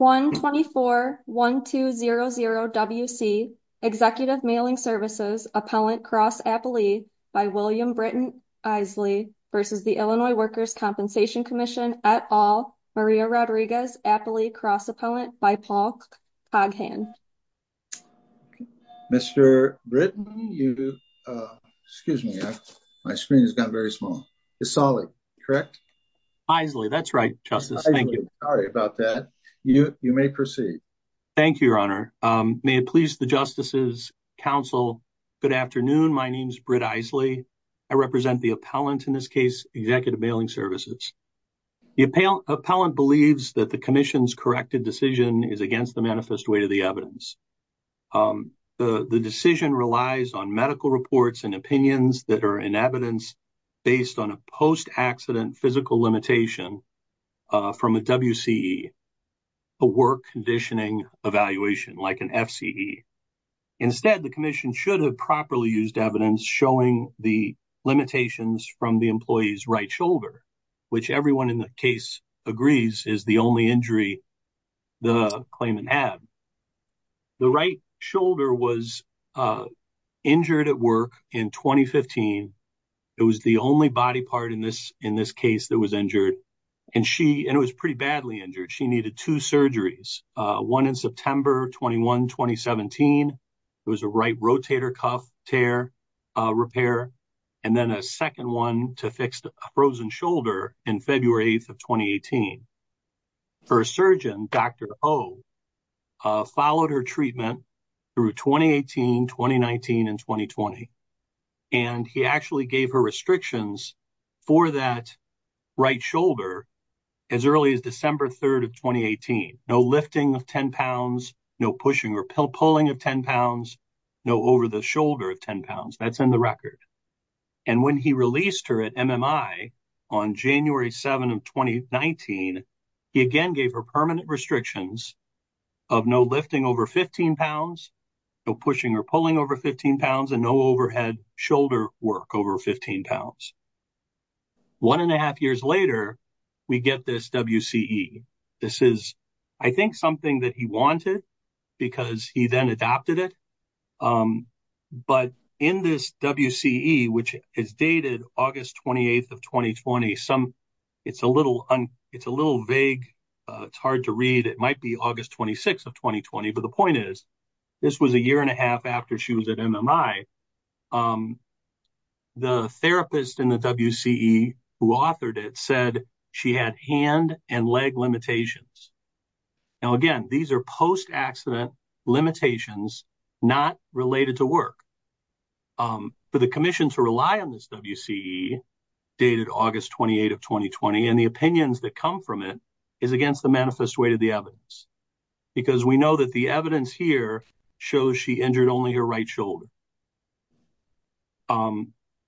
124-1200-WC Executive Mailing Services Appellant Cross Appellee by William Britton Isley v. Illinois Workers' Compensation Comm'n et al. Maria Rodriguez Appellee Cross Appellant by Paul Coghan You may proceed. Thank you, Your Honor. May it please the justices, counsel, good afternoon. My name is Britt Isley. I represent the appellant in this case, Executive Mailing Services. The appellant believes that the commission's corrected decision is against the manifest weight of the evidence. The decision relies on medical reports and opinions that are in evidence based on a post-accident physical limitation from a WCE, a work conditioning evaluation, like an FCE. Instead, the commission should have properly used evidence showing the limitations from the employee's right shoulder, which everyone in the case agrees is the only injury the claimant had. The right shoulder was injured at work in 2015. It was the only body part in this case that was injured, and it was pretty badly injured. She needed two surgeries, one in September 21, 2017. It was a right rotator cuff tear repair, and then a second one to fix a frozen shoulder in February 8, 2018. Her surgeon, Dr. Oh, followed her treatment through 2018, 2019, and 2020, and he actually gave her restrictions for that right shoulder as early as December 3, 2018. No lifting of 10 pounds, no pushing or pulling of 10 pounds, no over the shoulder of 10 pounds. That's in the record. When he released her at MMI on January 7 of 2019, he again gave her permanent restrictions of no lifting over 15 pounds, no pushing or pulling over 15 pounds, and no overhead shoulder work over 15 pounds. One and a half years later, we get this WCE. This is, I think, something that he wanted because he then adopted it, but in this WCE, which is dated August 28 of 2020, it's a little vague. It's hard to read. It might be August 26 of 2020, but the point is this was a year and a half after she was at MMI. The therapist in the limitations. Now, again, these are post-accident limitations not related to work, but the commission to rely on this WCE dated August 28 of 2020, and the opinions that come from it is against the manifest way to the evidence because we know that the evidence here shows she injured only her right shoulder.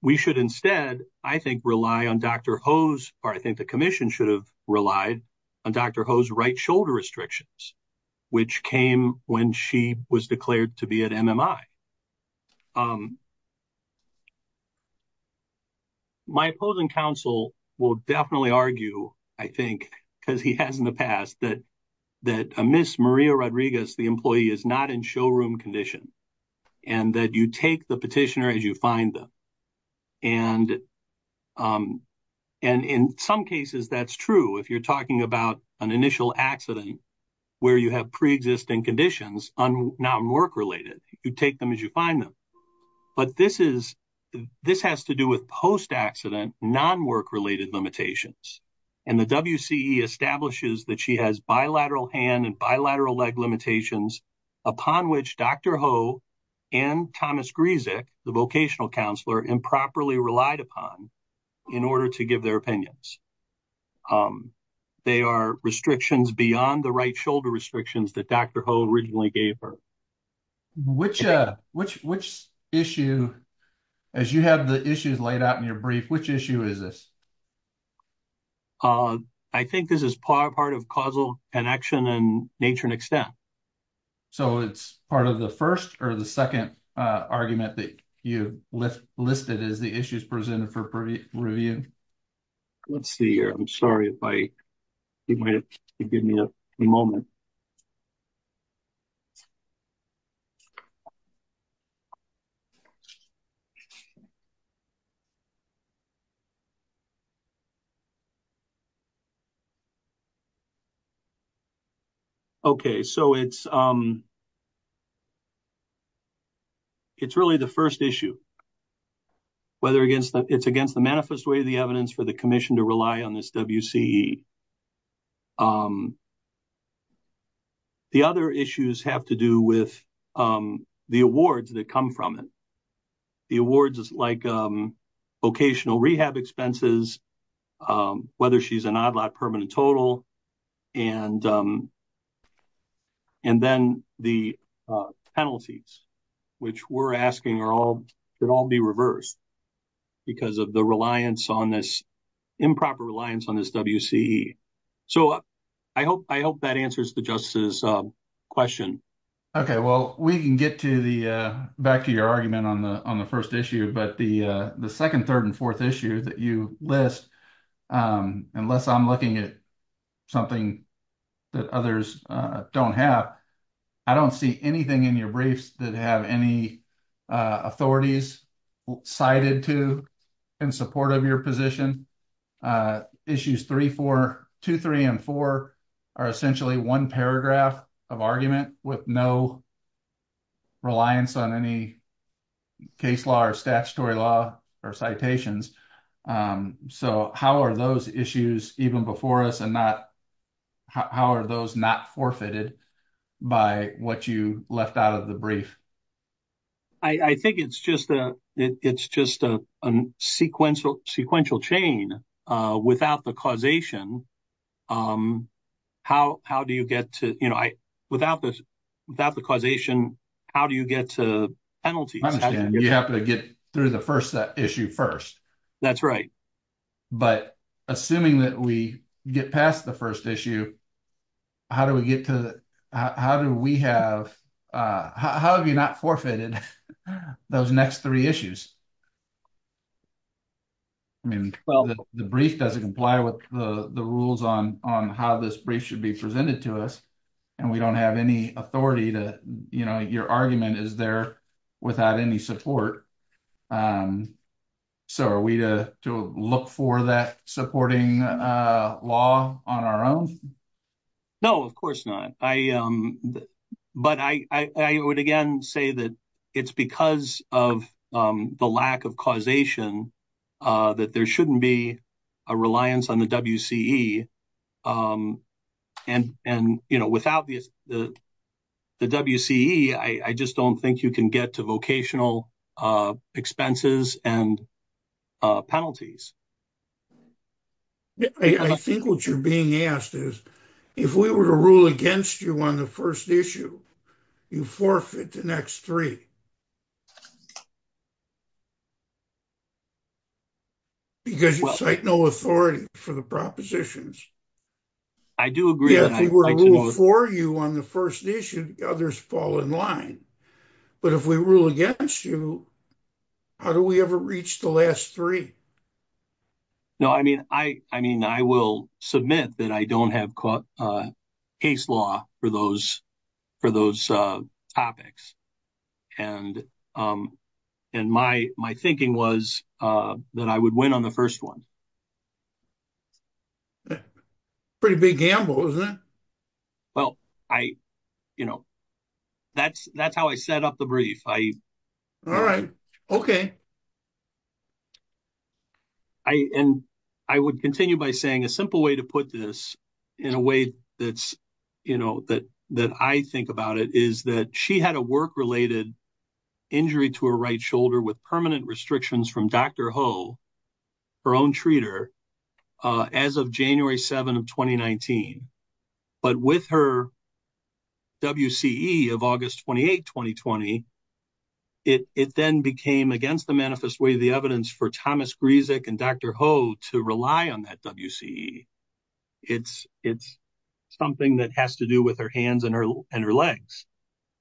We should instead, I think, rely on Dr. Oh's, or I think the commission should have relied on Dr. Oh's right shoulder restrictions, which came when she was declared to be at MMI. My opposing counsel will definitely argue, I think, because he has in the past, that Ms. Maria Rodriguez, the employee, is not in showroom condition, and that you take the petitioner as you find them, and in some cases, that's true. If you're talking about an initial accident where you have pre-existing conditions, not work-related, you take them as you find them, but this has to do with post-accident, non-work-related limitations, and the WCE establishes that she has bilateral hand and bilateral leg limitations upon which Dr. Oh and Thomas Grzyk, the vocational counselor, improperly relied upon in order to give their opinions. They are restrictions beyond the right shoulder restrictions that Dr. Oh originally gave her. Which issue, as you have the issues laid out in your brief, which issue is this? I think this is part of causal connection and nature and extent. So, it's part of the first or the second argument that you listed as the issues presented for review? Let's see here. I'm sorry if I, you might have to give me a moment. Okay, so it's really the first issue, whether it's against the manifest way of the evidence for the commission to rely on this WCE. The other issues have to do with the awards that come from it. The awards like vocational rehab expenses, whether she's an ODLAT permanent total, and then the penalties, which we're asking should all be reversed because of the reliance on this, improper reliance on this WCE. So, I hope that answers the Justice's question. Okay, well, we can get to the, back to your list. Unless I'm looking at something that others don't have, I don't see anything in your briefs that have any authorities cited to in support of your position. Issues 3, 4, 2, 3, and 4 are essentially one paragraph of argument with no reliance on any case law or statutory law or citations. So, how are those issues even before us and how are those not forfeited by what you left out of the brief? I think it's just a sequential chain. Without the causation, how do you get to, you know, without the causation, how do you get to penalties? You have to get through the first issue first. That's right. But assuming that we get past the first issue, how do we get to, how do we have, how have you not forfeited those next three issues? I mean, the brief doesn't comply with the rules on how this brief should be presented to us and we don't have any authority to, you know, your argument is there without any support. So, are we to look for that supporting law on our own? No, of course not. But I would again say that it's because of the lack of causation that there shouldn't be a reliance on the WCE. And, you know, without the WCE, I just don't think you can get to vocational expenses and penalties. I think what you're being asked is, if we were to rule against you on the first issue, you forfeit the next three. Because you cite no authority for the propositions. I do agree. Yeah, if we rule for you on the first issue, others fall in line. But if we rule against you, how do we ever reach the last three? No, I mean, I will submit that I don't have case law for those topics. And my thinking was that I would win on the first one. Pretty big gamble, isn't it? Well, I, you know, that's how I set up the brief. All right. Okay. And I would continue by saying a simple way to put this in a way that's, you know, that I think about it is that she had a work-related injury to her right shoulder with permanent restrictions from Dr. Ho, her own treater, as of January 7 of 2019. But with her WCE of August 28, 2020, it then became, against the manifest way, the evidence for Thomas Gryzik and Dr. Ho to rely on that WCE. It's something that has to do with her hands and her legs.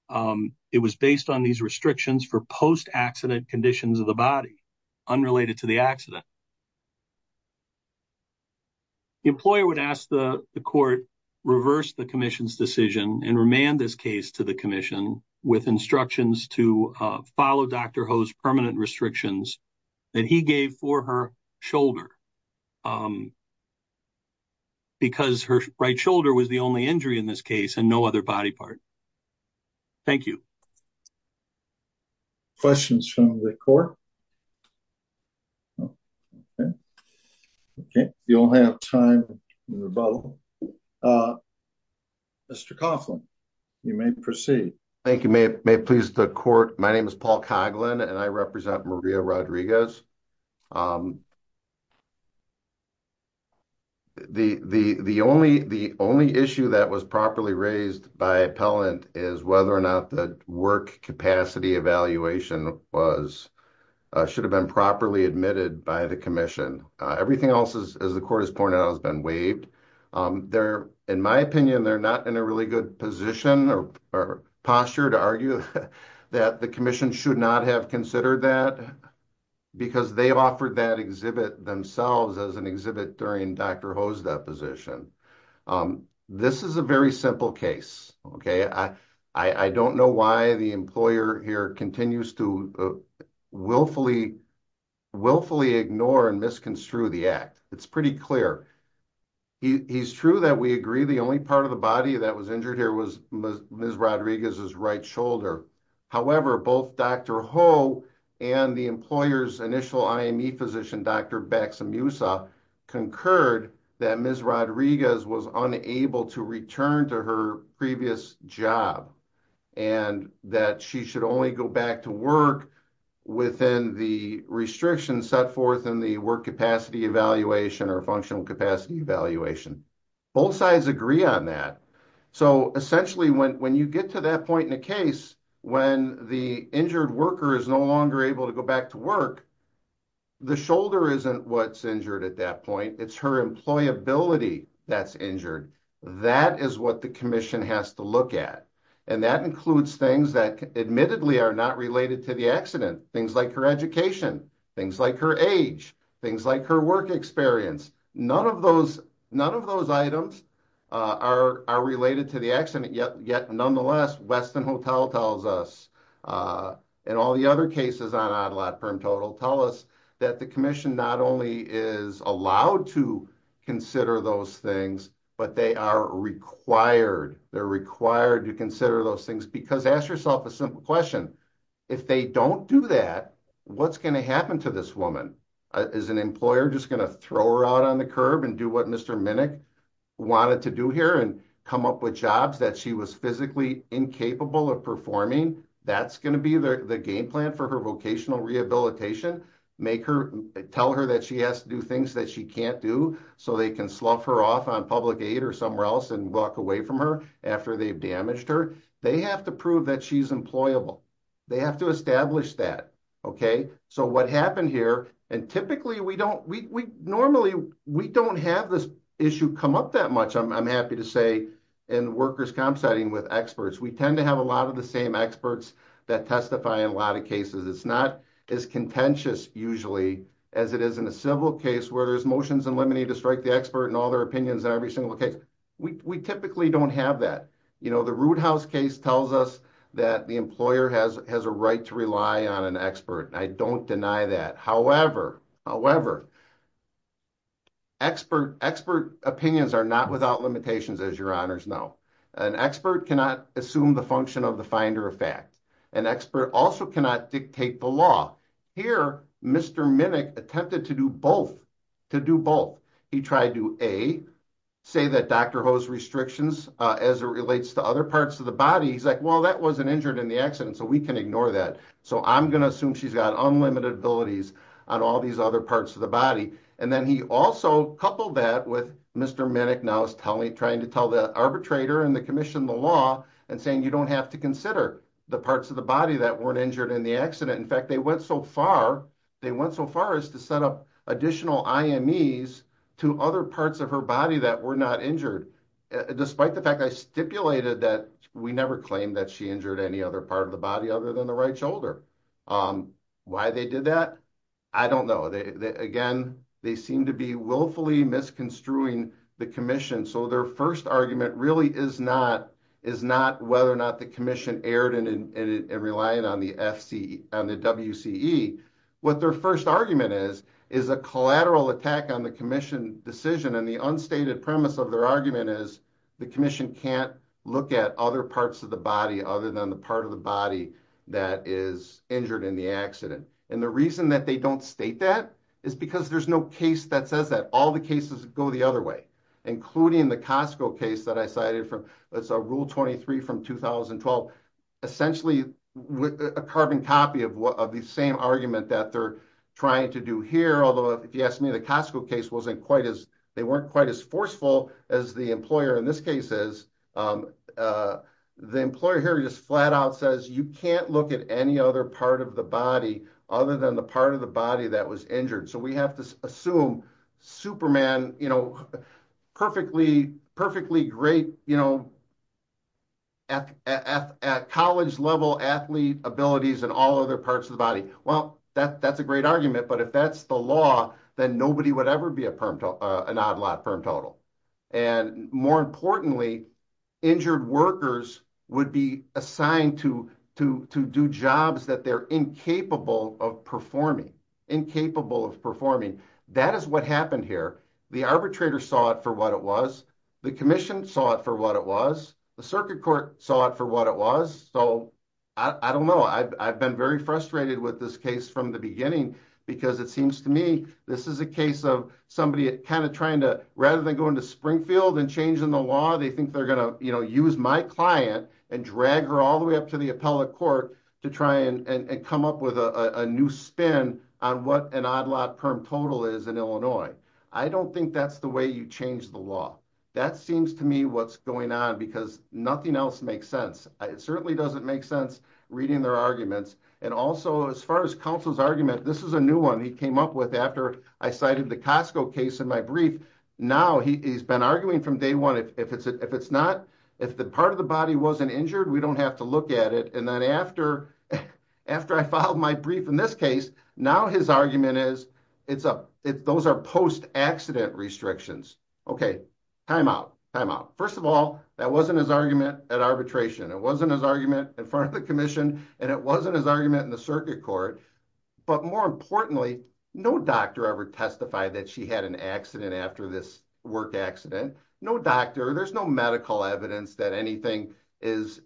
It was based on these restrictions for post-accident conditions of the body, unrelated to the accident. The employer would ask the court reverse the commission's decision and remand this to the commission with instructions to follow Dr. Ho's permanent restrictions that he gave for her shoulder. Because her right shoulder was the only injury in this case and no other body part. Thank you. Questions from the court? Okay. You all have time in the bubble. Mr. Coughlin, you may proceed. Thank you. May it please the court, my name is Paul Coughlin and I represent Maria Rodriguez. The only issue that was properly raised by appellant is whether or not the work capacity evaluation should have been properly admitted by the commission. Everything else, as the court pointed out, has been waived. In my opinion, they're not in a really good position or posture to argue that the commission should not have considered that because they offered that exhibit themselves as an exhibit during Dr. Ho's deposition. This is a very simple case. I don't know why the employer here continues to willfully ignore and misconstrue the act. It's pretty clear. It's true that we agree the only part of the body that was injured here was Ms. Rodriguez's right shoulder. However, both Dr. Ho and the employer's initial IME physician, Dr. Baxamusa, concurred that Ms. Rodriguez was unable to return to her previous job and that she should only go back to work within the restrictions set forth in the work capacity evaluation or functional capacity evaluation. Both sides agree on that. So, essentially, when you get to that point in a case when the injured worker is no longer able to go back to work, the shoulder isn't what's injured at that point. It's her employability that's injured. That is what the commission has to look at. And that includes things that admittedly are not related to the accident. Things like her education. Things like her age. Things like her work experience. None of those items are related to the accident. Yet, nonetheless, Westin Hotel tells us and all the other cases on Odd Lot Perm Total tell us that the commission not only is allowed to consider those things but they are required. They're required to consider those things because ask yourself a simple question. If they don't do that, what's going to happen to this woman? Is an employer just going to throw her out on the curb and do what Mr. Minnick wanted to do here and come up with jobs that she was physically incapable of performing? That's going to be the game plan for her vocational rehabilitation. Make her, tell her that she has to do things that she can't do so they can slough her off on public aid or somewhere else and walk away from her after they've damaged her. They have to prove that she's employable. They have to establish that. Okay, so what happened here and typically we don't, we normally, we don't have this issue come up that much I'm happy to say in workers' comp setting with experts. We tend to have a lot of the same experts that testify in a lot of cases. It's not as contentious usually as it is in a civil case where there's motions in limine to strike the expert and all their opinions in every single case. We typically don't have that. You know, the Rude House case tells us that the employer has a right to rely on an expert. I don't deny that. However, however, expert opinions are not without limitations as your honors know. An expert cannot assume the function of the finder of fact. An expert also cannot dictate the law. Here, Mr. Minnick attempted to do both, to do both. He tried to A, say that Dr. Ho's restrictions as it relates to other parts of the body. He's like, well, that wasn't injured in the accident, so we can ignore that. So I'm going to assume she's got unlimited abilities on all these other parts of the body. And then he also coupled that with Mr. Minnick now is telling, trying to tell the arbitrator and the commission the law and saying you don't have to consider the parts of the body that weren't in the accident. In fact, they went so far, they went so far as to set up additional IMEs to other parts of her body that were not injured. Despite the fact I stipulated that we never claimed that she injured any other part of the body other than the right shoulder. Why they did that, I don't know. Again, they seem to be willfully misconstruing the commission. So their first argument really is not, is not whether or not the commission erred in relying on the FCE, on the WCE. What their first argument is, is a collateral attack on the commission decision. And the unstated premise of their argument is the commission can't look at other parts of the body other than the part of the body that is injured in the accident. And the reason that they don't state that is because there's no case that says that. All the cases go the other way, including the Costco case that I cited from, it's a rule 23 from 2012. Essentially a carbon copy of the same argument that they're trying to do here. Although if you ask me, the Costco case wasn't quite as, they weren't quite as forceful as the employer in this case is. The employer here just flat out says you can't look at any other part of the body other than the part of the body that was injured. So we have to assume Superman, perfectly great at college level athlete abilities and all other parts of the body. Well, that's a great argument, but if that's the law, then nobody would ever be an odd lot firm total. And more importantly, injured workers would be assigned to do jobs that they're incapable of performing. That is what happened here. The arbitrator saw it for what it was. The commission saw it for what it was. The circuit court saw it for what it was. So I don't know. I've been very frustrated with this case from the beginning because it seems to me, this is a case of somebody kind of trying to, rather than going to Springfield and changing the law, they think they're going to use my client and drag her all the way up to the appellate court to try and come up with a new spin on what an odd lot firm total is in Illinois. I don't think that's the way you change the law. That seems to me what's going on because nothing else makes sense. It certainly doesn't make sense reading their arguments. And also as far as counsel's argument, this is a new one he came up with after I cited the Costco case in my brief. Now he's been arguing from day one. If the part of the body wasn't injured, we don't have to look at it. And then after I filed my brief in this case, now his argument is those are post-accident restrictions. Okay. Time out. Time out. First of all, that wasn't his argument at arbitration. It wasn't his argument in front of the commission and it wasn't his argument in the circuit court. But more importantly, no doctor ever testified that she had an accident after this work accident. No doctor, there's no medical evidence that anything is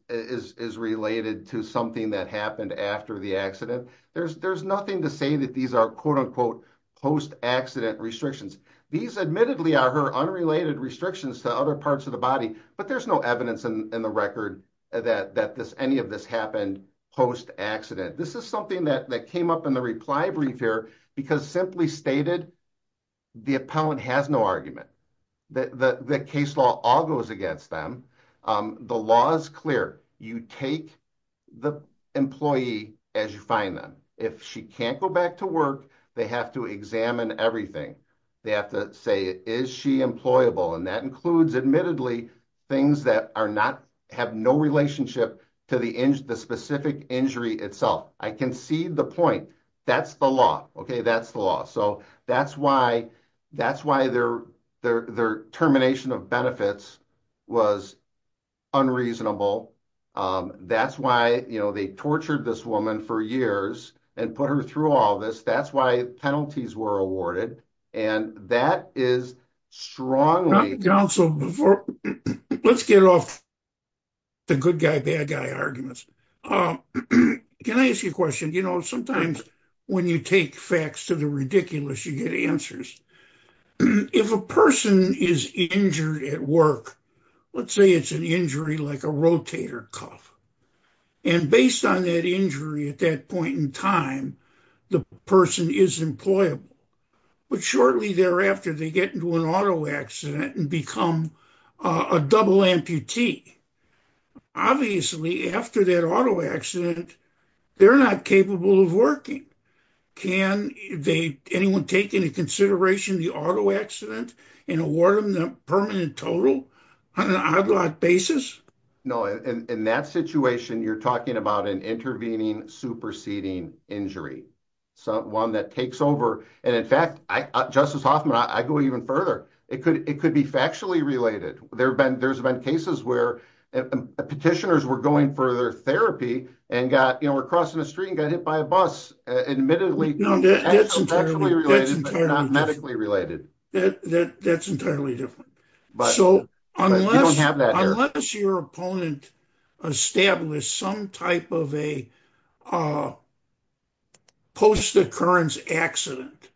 related to something that happened after the accident. There's nothing to say that these are quote unquote post-accident restrictions. These admittedly are unrelated restrictions to other parts of the body, but there's no evidence in the record that any of this happened post-accident. This is something that came up in the reply brief here because simply stated, the appellant has no argument. The case law all goes against them. The law is clear. You take the employee as you find them. If she can't go back to work, they have to examine everything. They have to say, is she employable? And that includes admittedly things that have no relationship to the specific injury itself. I concede the point. That's the law. That's the law. That's why their termination of benefits was unreasonable. That's why they tortured this woman for years and put her through all this. That's why penalties were awarded. And that is strongly- Dr. Johnson, let's get off the good guy, bad guy arguments. Can I ask you a question? Sometimes when you take facts to the ridiculous, you get answers. If a person is injured at work, let's say it's an injury like a rotator cuff. And based on that injury at that point in time, the person is employable. But shortly thereafter, they get into an auto accident and become a double amputee. Obviously, after that auto accident, they're not capable of working. Can anyone take into consideration the auto accident and award them the permanent total on an odd-lot basis? No. In that situation, you're talking about an intervening, superseding injury, someone that takes over. And in fact, Justice Hoffman, I go even further. It could be factually related. There's been cases where petitioners were going for their therapy and were crossing the street and got hit by a bus. Admittedly, it's factually related, but not medically related. That's entirely different. Unless your opponent established some type of a post-occurrence accident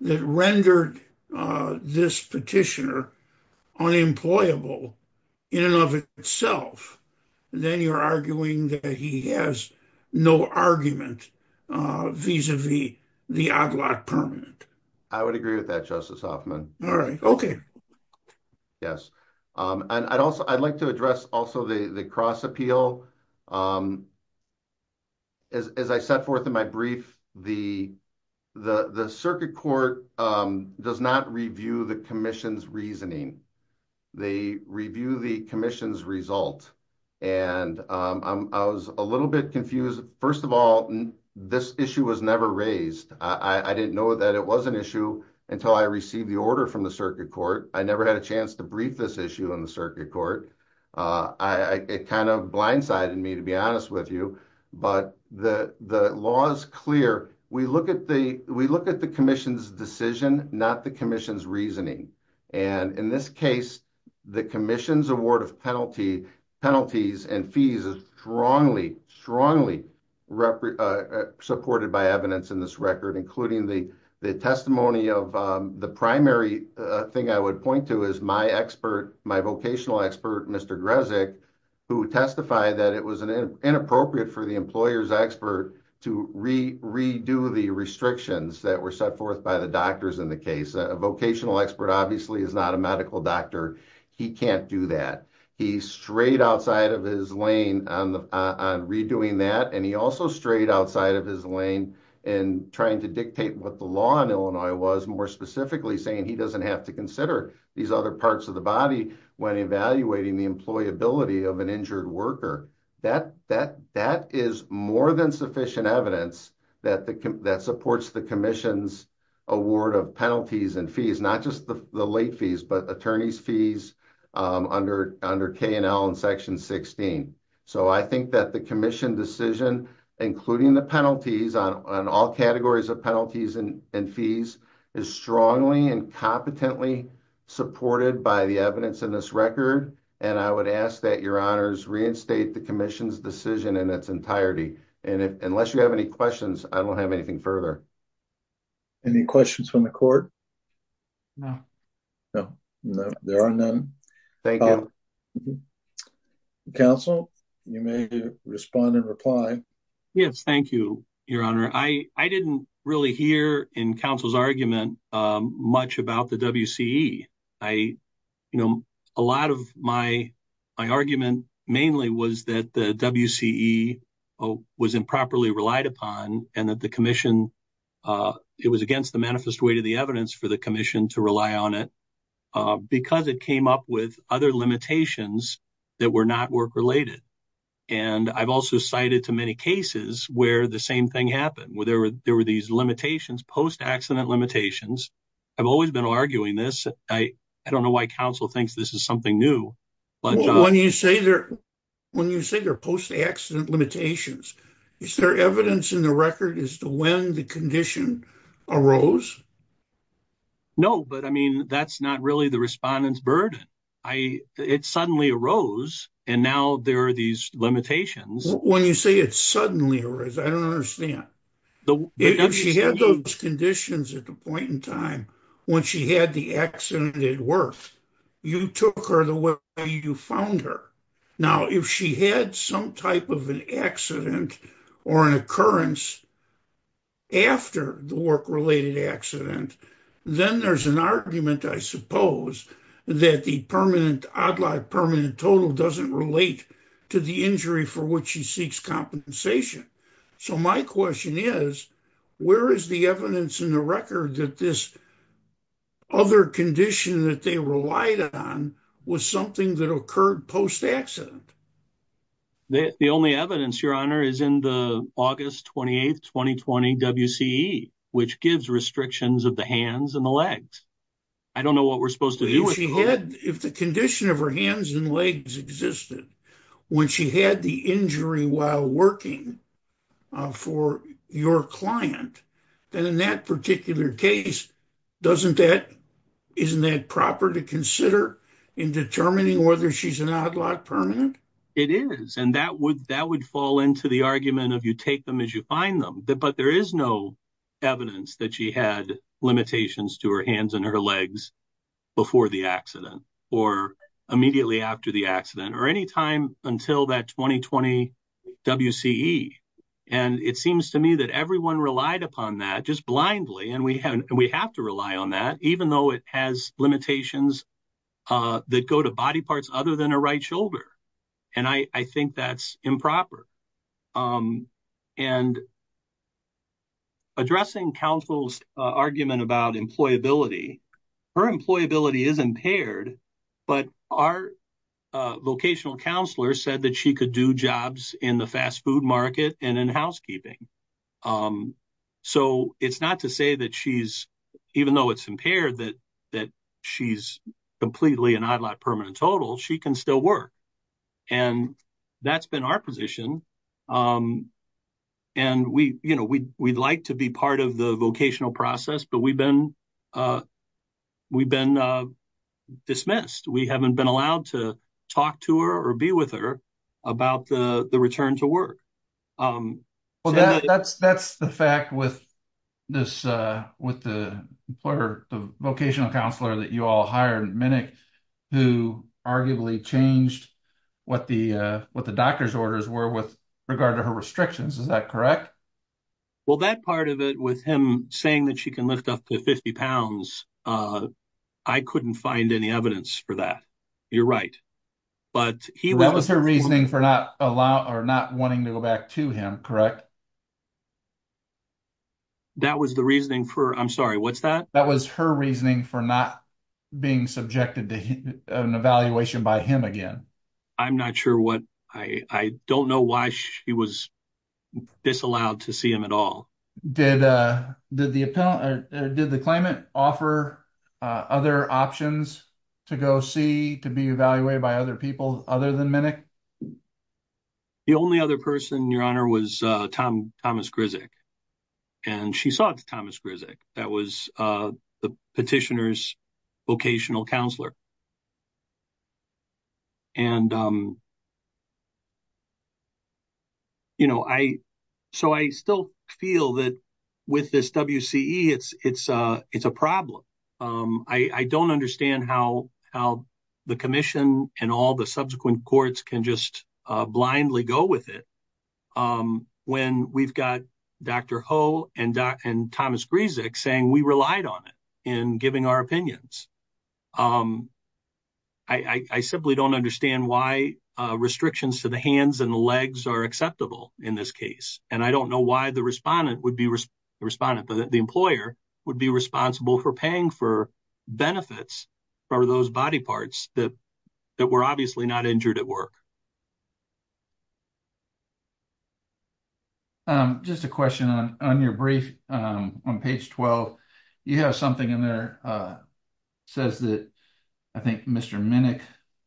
that rendered this petitioner unemployable in and of itself, then you're arguing that he has no argument vis-a-vis the odd-lot permanent. I would agree with that, Justice Hoffman. I'd like to address also the cross-appeal. As I set forth in my brief, the circuit court does not review the commission's reasoning. They review the commission's result. And I was a little bit confused. First of all, this issue was never raised. I didn't know that it was an issue until I received the order from the circuit court. I never had a chance to brief this issue in the circuit court. It kind of blindsided me, to be honest with you. But the law is clear. We look at the commission's decision, not the commission's reasoning. And in this case, the commission's award of penalties and fees is strongly, strongly supported by evidence in this record, including the testimony of the primary thing I would point to is my expert, my vocational expert, Mr. Grezek, who testified that it was inappropriate for the employer's expert to redo the restrictions that were set forth by the doctors in the case. A vocational expert obviously is not a medical doctor. He can't do that. He's straight outside of his lane on redoing that. And he also strayed outside of his lane in trying to dictate what the law in Illinois was, more specifically saying he doesn't have to consider these other parts of the body when evaluating the employability of an injured worker. That is more than sufficient evidence that supports the commission's award of penalties and fees, not just the late fees, but attorney's fees under K&L and section 16. So I think that the commission decision, including the penalties on all categories of penalties and fees, is strongly and competently supported by the evidence in this record. And I would ask that your honors reinstate the commission's decision in its entirety. And unless you have any questions, I don't have anything further. Any questions from the court? No. No, there are none. Thank you. Counsel, you may respond and reply. Yes, thank you, your honor. I didn't really hear in counsel's argument much about the WCE. A lot of my argument mainly was that the WCE was improperly relied upon and that the commission, it was against the manifest way to the evidence for the commission to rely on it because it came up with other limitations that were not work-related. And I've also cited too many cases where the same thing happened, where there were these limitations, post-accident limitations. I've always been arguing this. I don't know why counsel thinks this is something new. When you say they're post-accident limitations, is there evidence in the record as to when the condition arose? No, but I mean, that's not really the respondent's burden. It suddenly arose and now there are these limitations. When you say it suddenly arose, I don't understand. If she had those conditions at the point in time when she had the accident at work, you took her the way you found her. Now, if she had some type of an accident or an occurrence after the work-related accident, then there's an argument, I suppose, that the permanent, odd-life permanent total doesn't relate to the injury for which she seeks compensation. So my question is, where is the evidence in the record that this other condition that they relied on was something that occurred post-accident? The only evidence, Your Honor, is in the August 28, 2020 WCE, which gives restrictions of the hands and the legs. I don't know what we're supposed to do with the whole- If the condition of her hands and legs existed when she had the injury while working for your client, then in that particular case, isn't that proper to consider in determining whether she's an It is, and that would fall into the argument of you take them as you find them. But there is no evidence that she had limitations to her hands and her legs before the accident or immediately after the accident or any time until that 2020 WCE. And it seems to me that everyone relied upon that just blindly, and we have to rely on that, even though it has limitations that go to body and I think that's improper. And addressing counsel's argument about employability, her employability is impaired, but our vocational counselor said that she could do jobs in the fast food market and in housekeeping. So it's not to say that she's, even though it's impaired, that she's completely an odd lot permanent total, she can still work. And that's been our position. And we'd like to be part of the vocational process, but we've been dismissed. We haven't been allowed to talk to her or be with her about the return to work. Um, well, that's, that's the fact with this, uh, with the employer, the vocational counselor that you all hired minute, who arguably changed what the, uh, what the doctor's orders were with regard to her restrictions. Is that correct? Well, that part of it with him saying that she can lift up to 50 pounds. Uh, I couldn't find any evidence for that. You're right. But he, that was her reasoning for not allow or not wanting to go back to him. Correct. That was the reasoning for, I'm sorry, what's that? That was her reasoning for not being subjected to an evaluation by him again. I'm not sure what I, I don't know why she was disallowed to see him at all. Did, uh, did the, uh, did the climate offer, uh, other options to go see, to be evaluated by other people other than minute? The only other person, your honor was, uh, Tom, Thomas Grizzick, and she saw it to Thomas Grizzick. That was, uh, the petitioners vocational counselor. And, um, you know, I, so I still feel that with this WC it's, it's, uh, it's a problem. Um, I, I don't understand how, how the commission and all the subsequent courts can just blindly go with it. Um, when we've got Dr. Ho and, uh, and Thomas Grizzick saying we relied on it in giving our opinions. Um, I, I, I simply don't understand why, uh, restrictions to the hands and the legs are acceptable in this case. And I don't know why the respondent would be responding to the employer would be responsible for paying for benefits for those body parts that were obviously not injured at work. Um, just a question on, on your brief, um, on page 12, you have something in there, uh, says that I think Mr. Minick,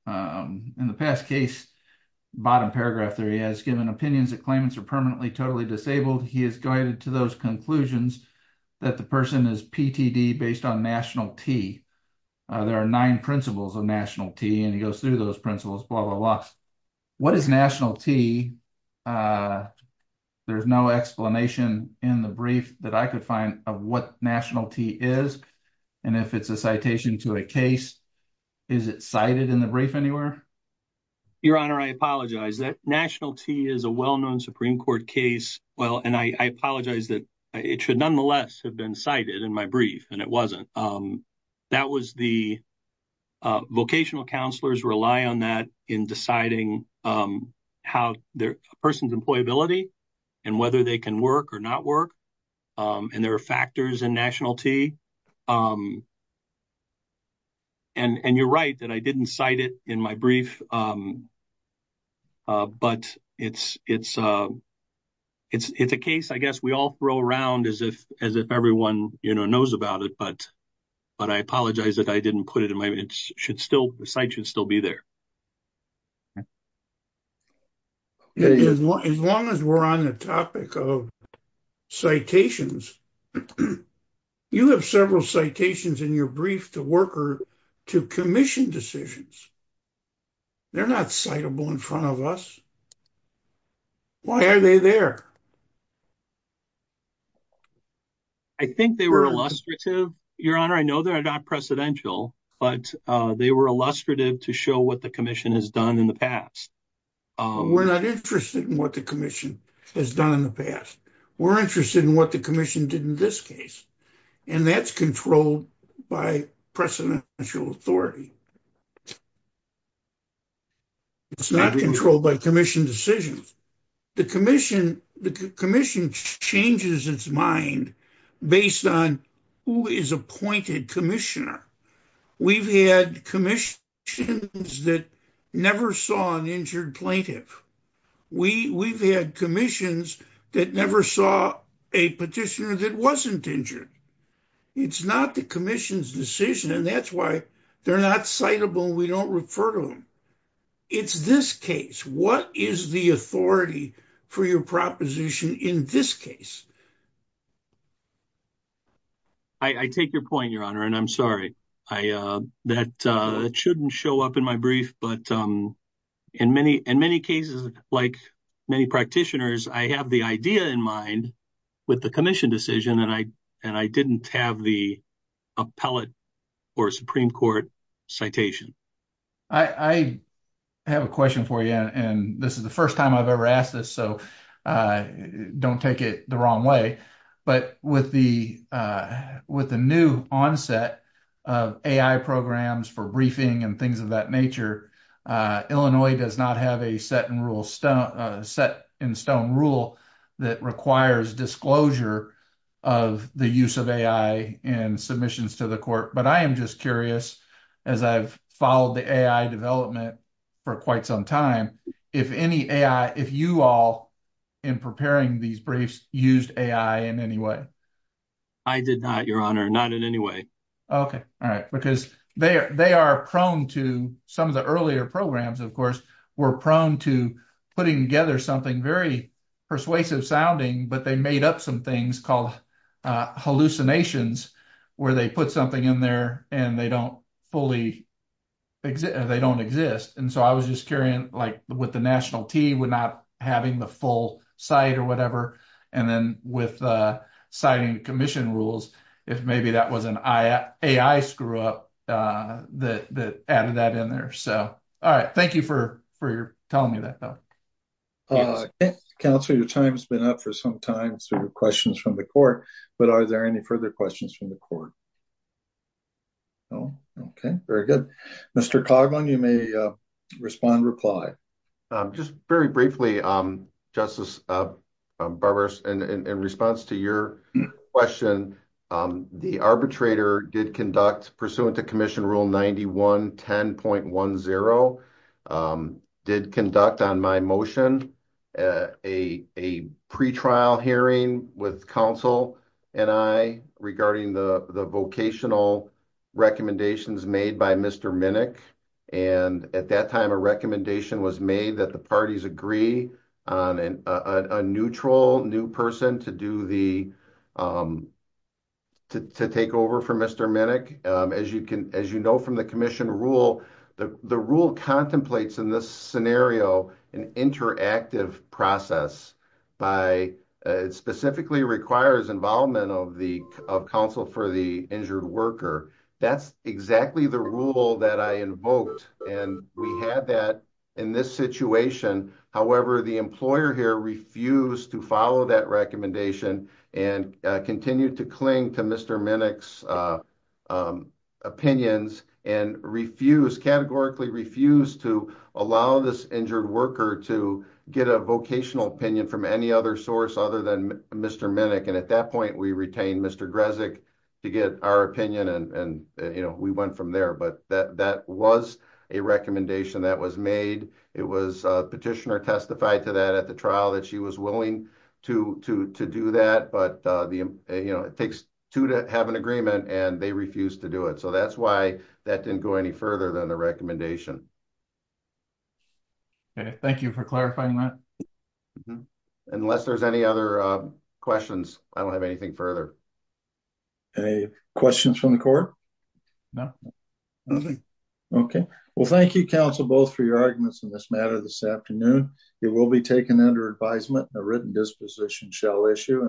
um, in the past case, bottom paragraph there, he has given opinions that claimants are permanently, totally disabled. He has guided to those conclusions that the person is PTD based on national T. Uh, there are nine principles of national T and he goes through those principles, blah, blah, blah. What is national T? Uh, there's no explanation in the brief that I could find of what national T is. And if it's a citation to a case, is it cited in the brief anywhere? Your Honor, I apologize that national T is a well-known Supreme Court case. Well, and I, I apologize that it should nonetheless have been cited in my brief and it wasn't. Um, that was the, uh, vocational counselors rely on that in deciding, um, how their person's employability and whether they can work or not work. Um, and there are factors in national T, um, and, and you're right that I didn't cite it in my brief. Um, uh, but it's, it's, uh, it's, it's a case, I guess we all throw around as if, as if everyone, you know, knows about it, but, but I apologize that I didn't put it in my, it should still, the site should still be there. As long as we're on the topic of citations, you have several citations in your brief to worker, to commission decisions. They're not citable in front of us. Why are they there? I think they were illustrative. Your Honor, I know they're not precedential, but, uh, they were illustrative to show what the commission has done in the past. Um, we're not interested in what the commission has done in the past. We're interested in what the commission did in this case. And that's controlled by precedential authority. It's not controlled by commission decisions. The commission, the commission changes its mind based on who is appointed commissioner. We've had commission that never saw an injured plaintiff. We we've had commissions that never saw a petitioner that wasn't injured. It's not commission's decision. And that's why they're not citable. We don't refer to them. It's this case. What is the authority for your proposition in this case? I take your point, Your Honor. And I'm sorry. I, uh, that, uh, shouldn't show up in my brief, but, um, in many, in many cases, like many practitioners, I have the idea in mind with the commission decision. And I, and I didn't have the appellate or Supreme court citation. I have a question for you. And this is the first time I've ever asked this. So, uh, don't take it the wrong way, but with the, uh, with the new onset of AI programs for briefing and things of nature, uh, Illinois does not have a set and rule stone, uh, set in stone rule that requires disclosure of the use of AI and submissions to the court. But I am just curious as I've followed the AI development for quite some time, if any AI, if you all in preparing these briefs used AI in any way, I did not, Your Honor, not in any way. Okay. All right. Because they are, they are prone to some of the earlier programs, of course, were prone to putting together something very persuasive sounding, but they made up some things called, uh, hallucinations where they put something in there and they don't fully exist or they don't exist. And so I was just carrying like with the national team would not having the full site or whatever. And then with, uh, signing commission rules, if maybe that was an AI screw up, uh, that, that added that in there. So, all right. Thank you for, for your telling me that though. Counselor, your time has been up for some time. So your questions from the court, but are there any further questions from the court? No. Okay. Very good. Mr. Coughlin, you may respond, reply, um, just very briefly. Um, justice, uh, um, Barbara's in, in, in response to your question, um, the arbitrator did conduct pursuant to commission rule 91, 10.1 zero, um, did conduct on my motion, uh, a, a pretrial hearing with counsel and I regarding the, the vocational recommendations made by Mr. Minnick. And at that time, a recommendation was made that the parties agree on a neutral new person to do the, um, to, to take over for Mr. Minnick. Um, as you can, as you know, from the commission rule, the rule contemplates in this scenario, an interactive process by, uh, specifically requires involvement of the, of counsel for the injured worker. That's exactly the rule that I invoked. And we had that in this situation. However, the employer here refused to follow that and, uh, continued to cling to Mr. Minnick's, uh, um, opinions and refuse categorically refused to allow this injured worker to get a vocational opinion from any other source other than Mr. Minnick. And at that point we retained Mr. Grezik to get our opinion. And, and, you know, we went from there, but that, that was a recommendation that was made. It was a petitioner testified to that at the trial that she was willing to, to, to do that. But, uh, the, you know, it takes two to have an agreement and they refuse to do it. So that's why that didn't go any further than the recommendation. Okay. Thank you for clarifying that. Unless there's any other, uh, questions, I don't have anything further. Any questions from the court? No. Nothing. Okay. Well, thank you, counsel, both for your arguments in this matter this afternoon. It will be taken under advisement and a written disposition shall issue.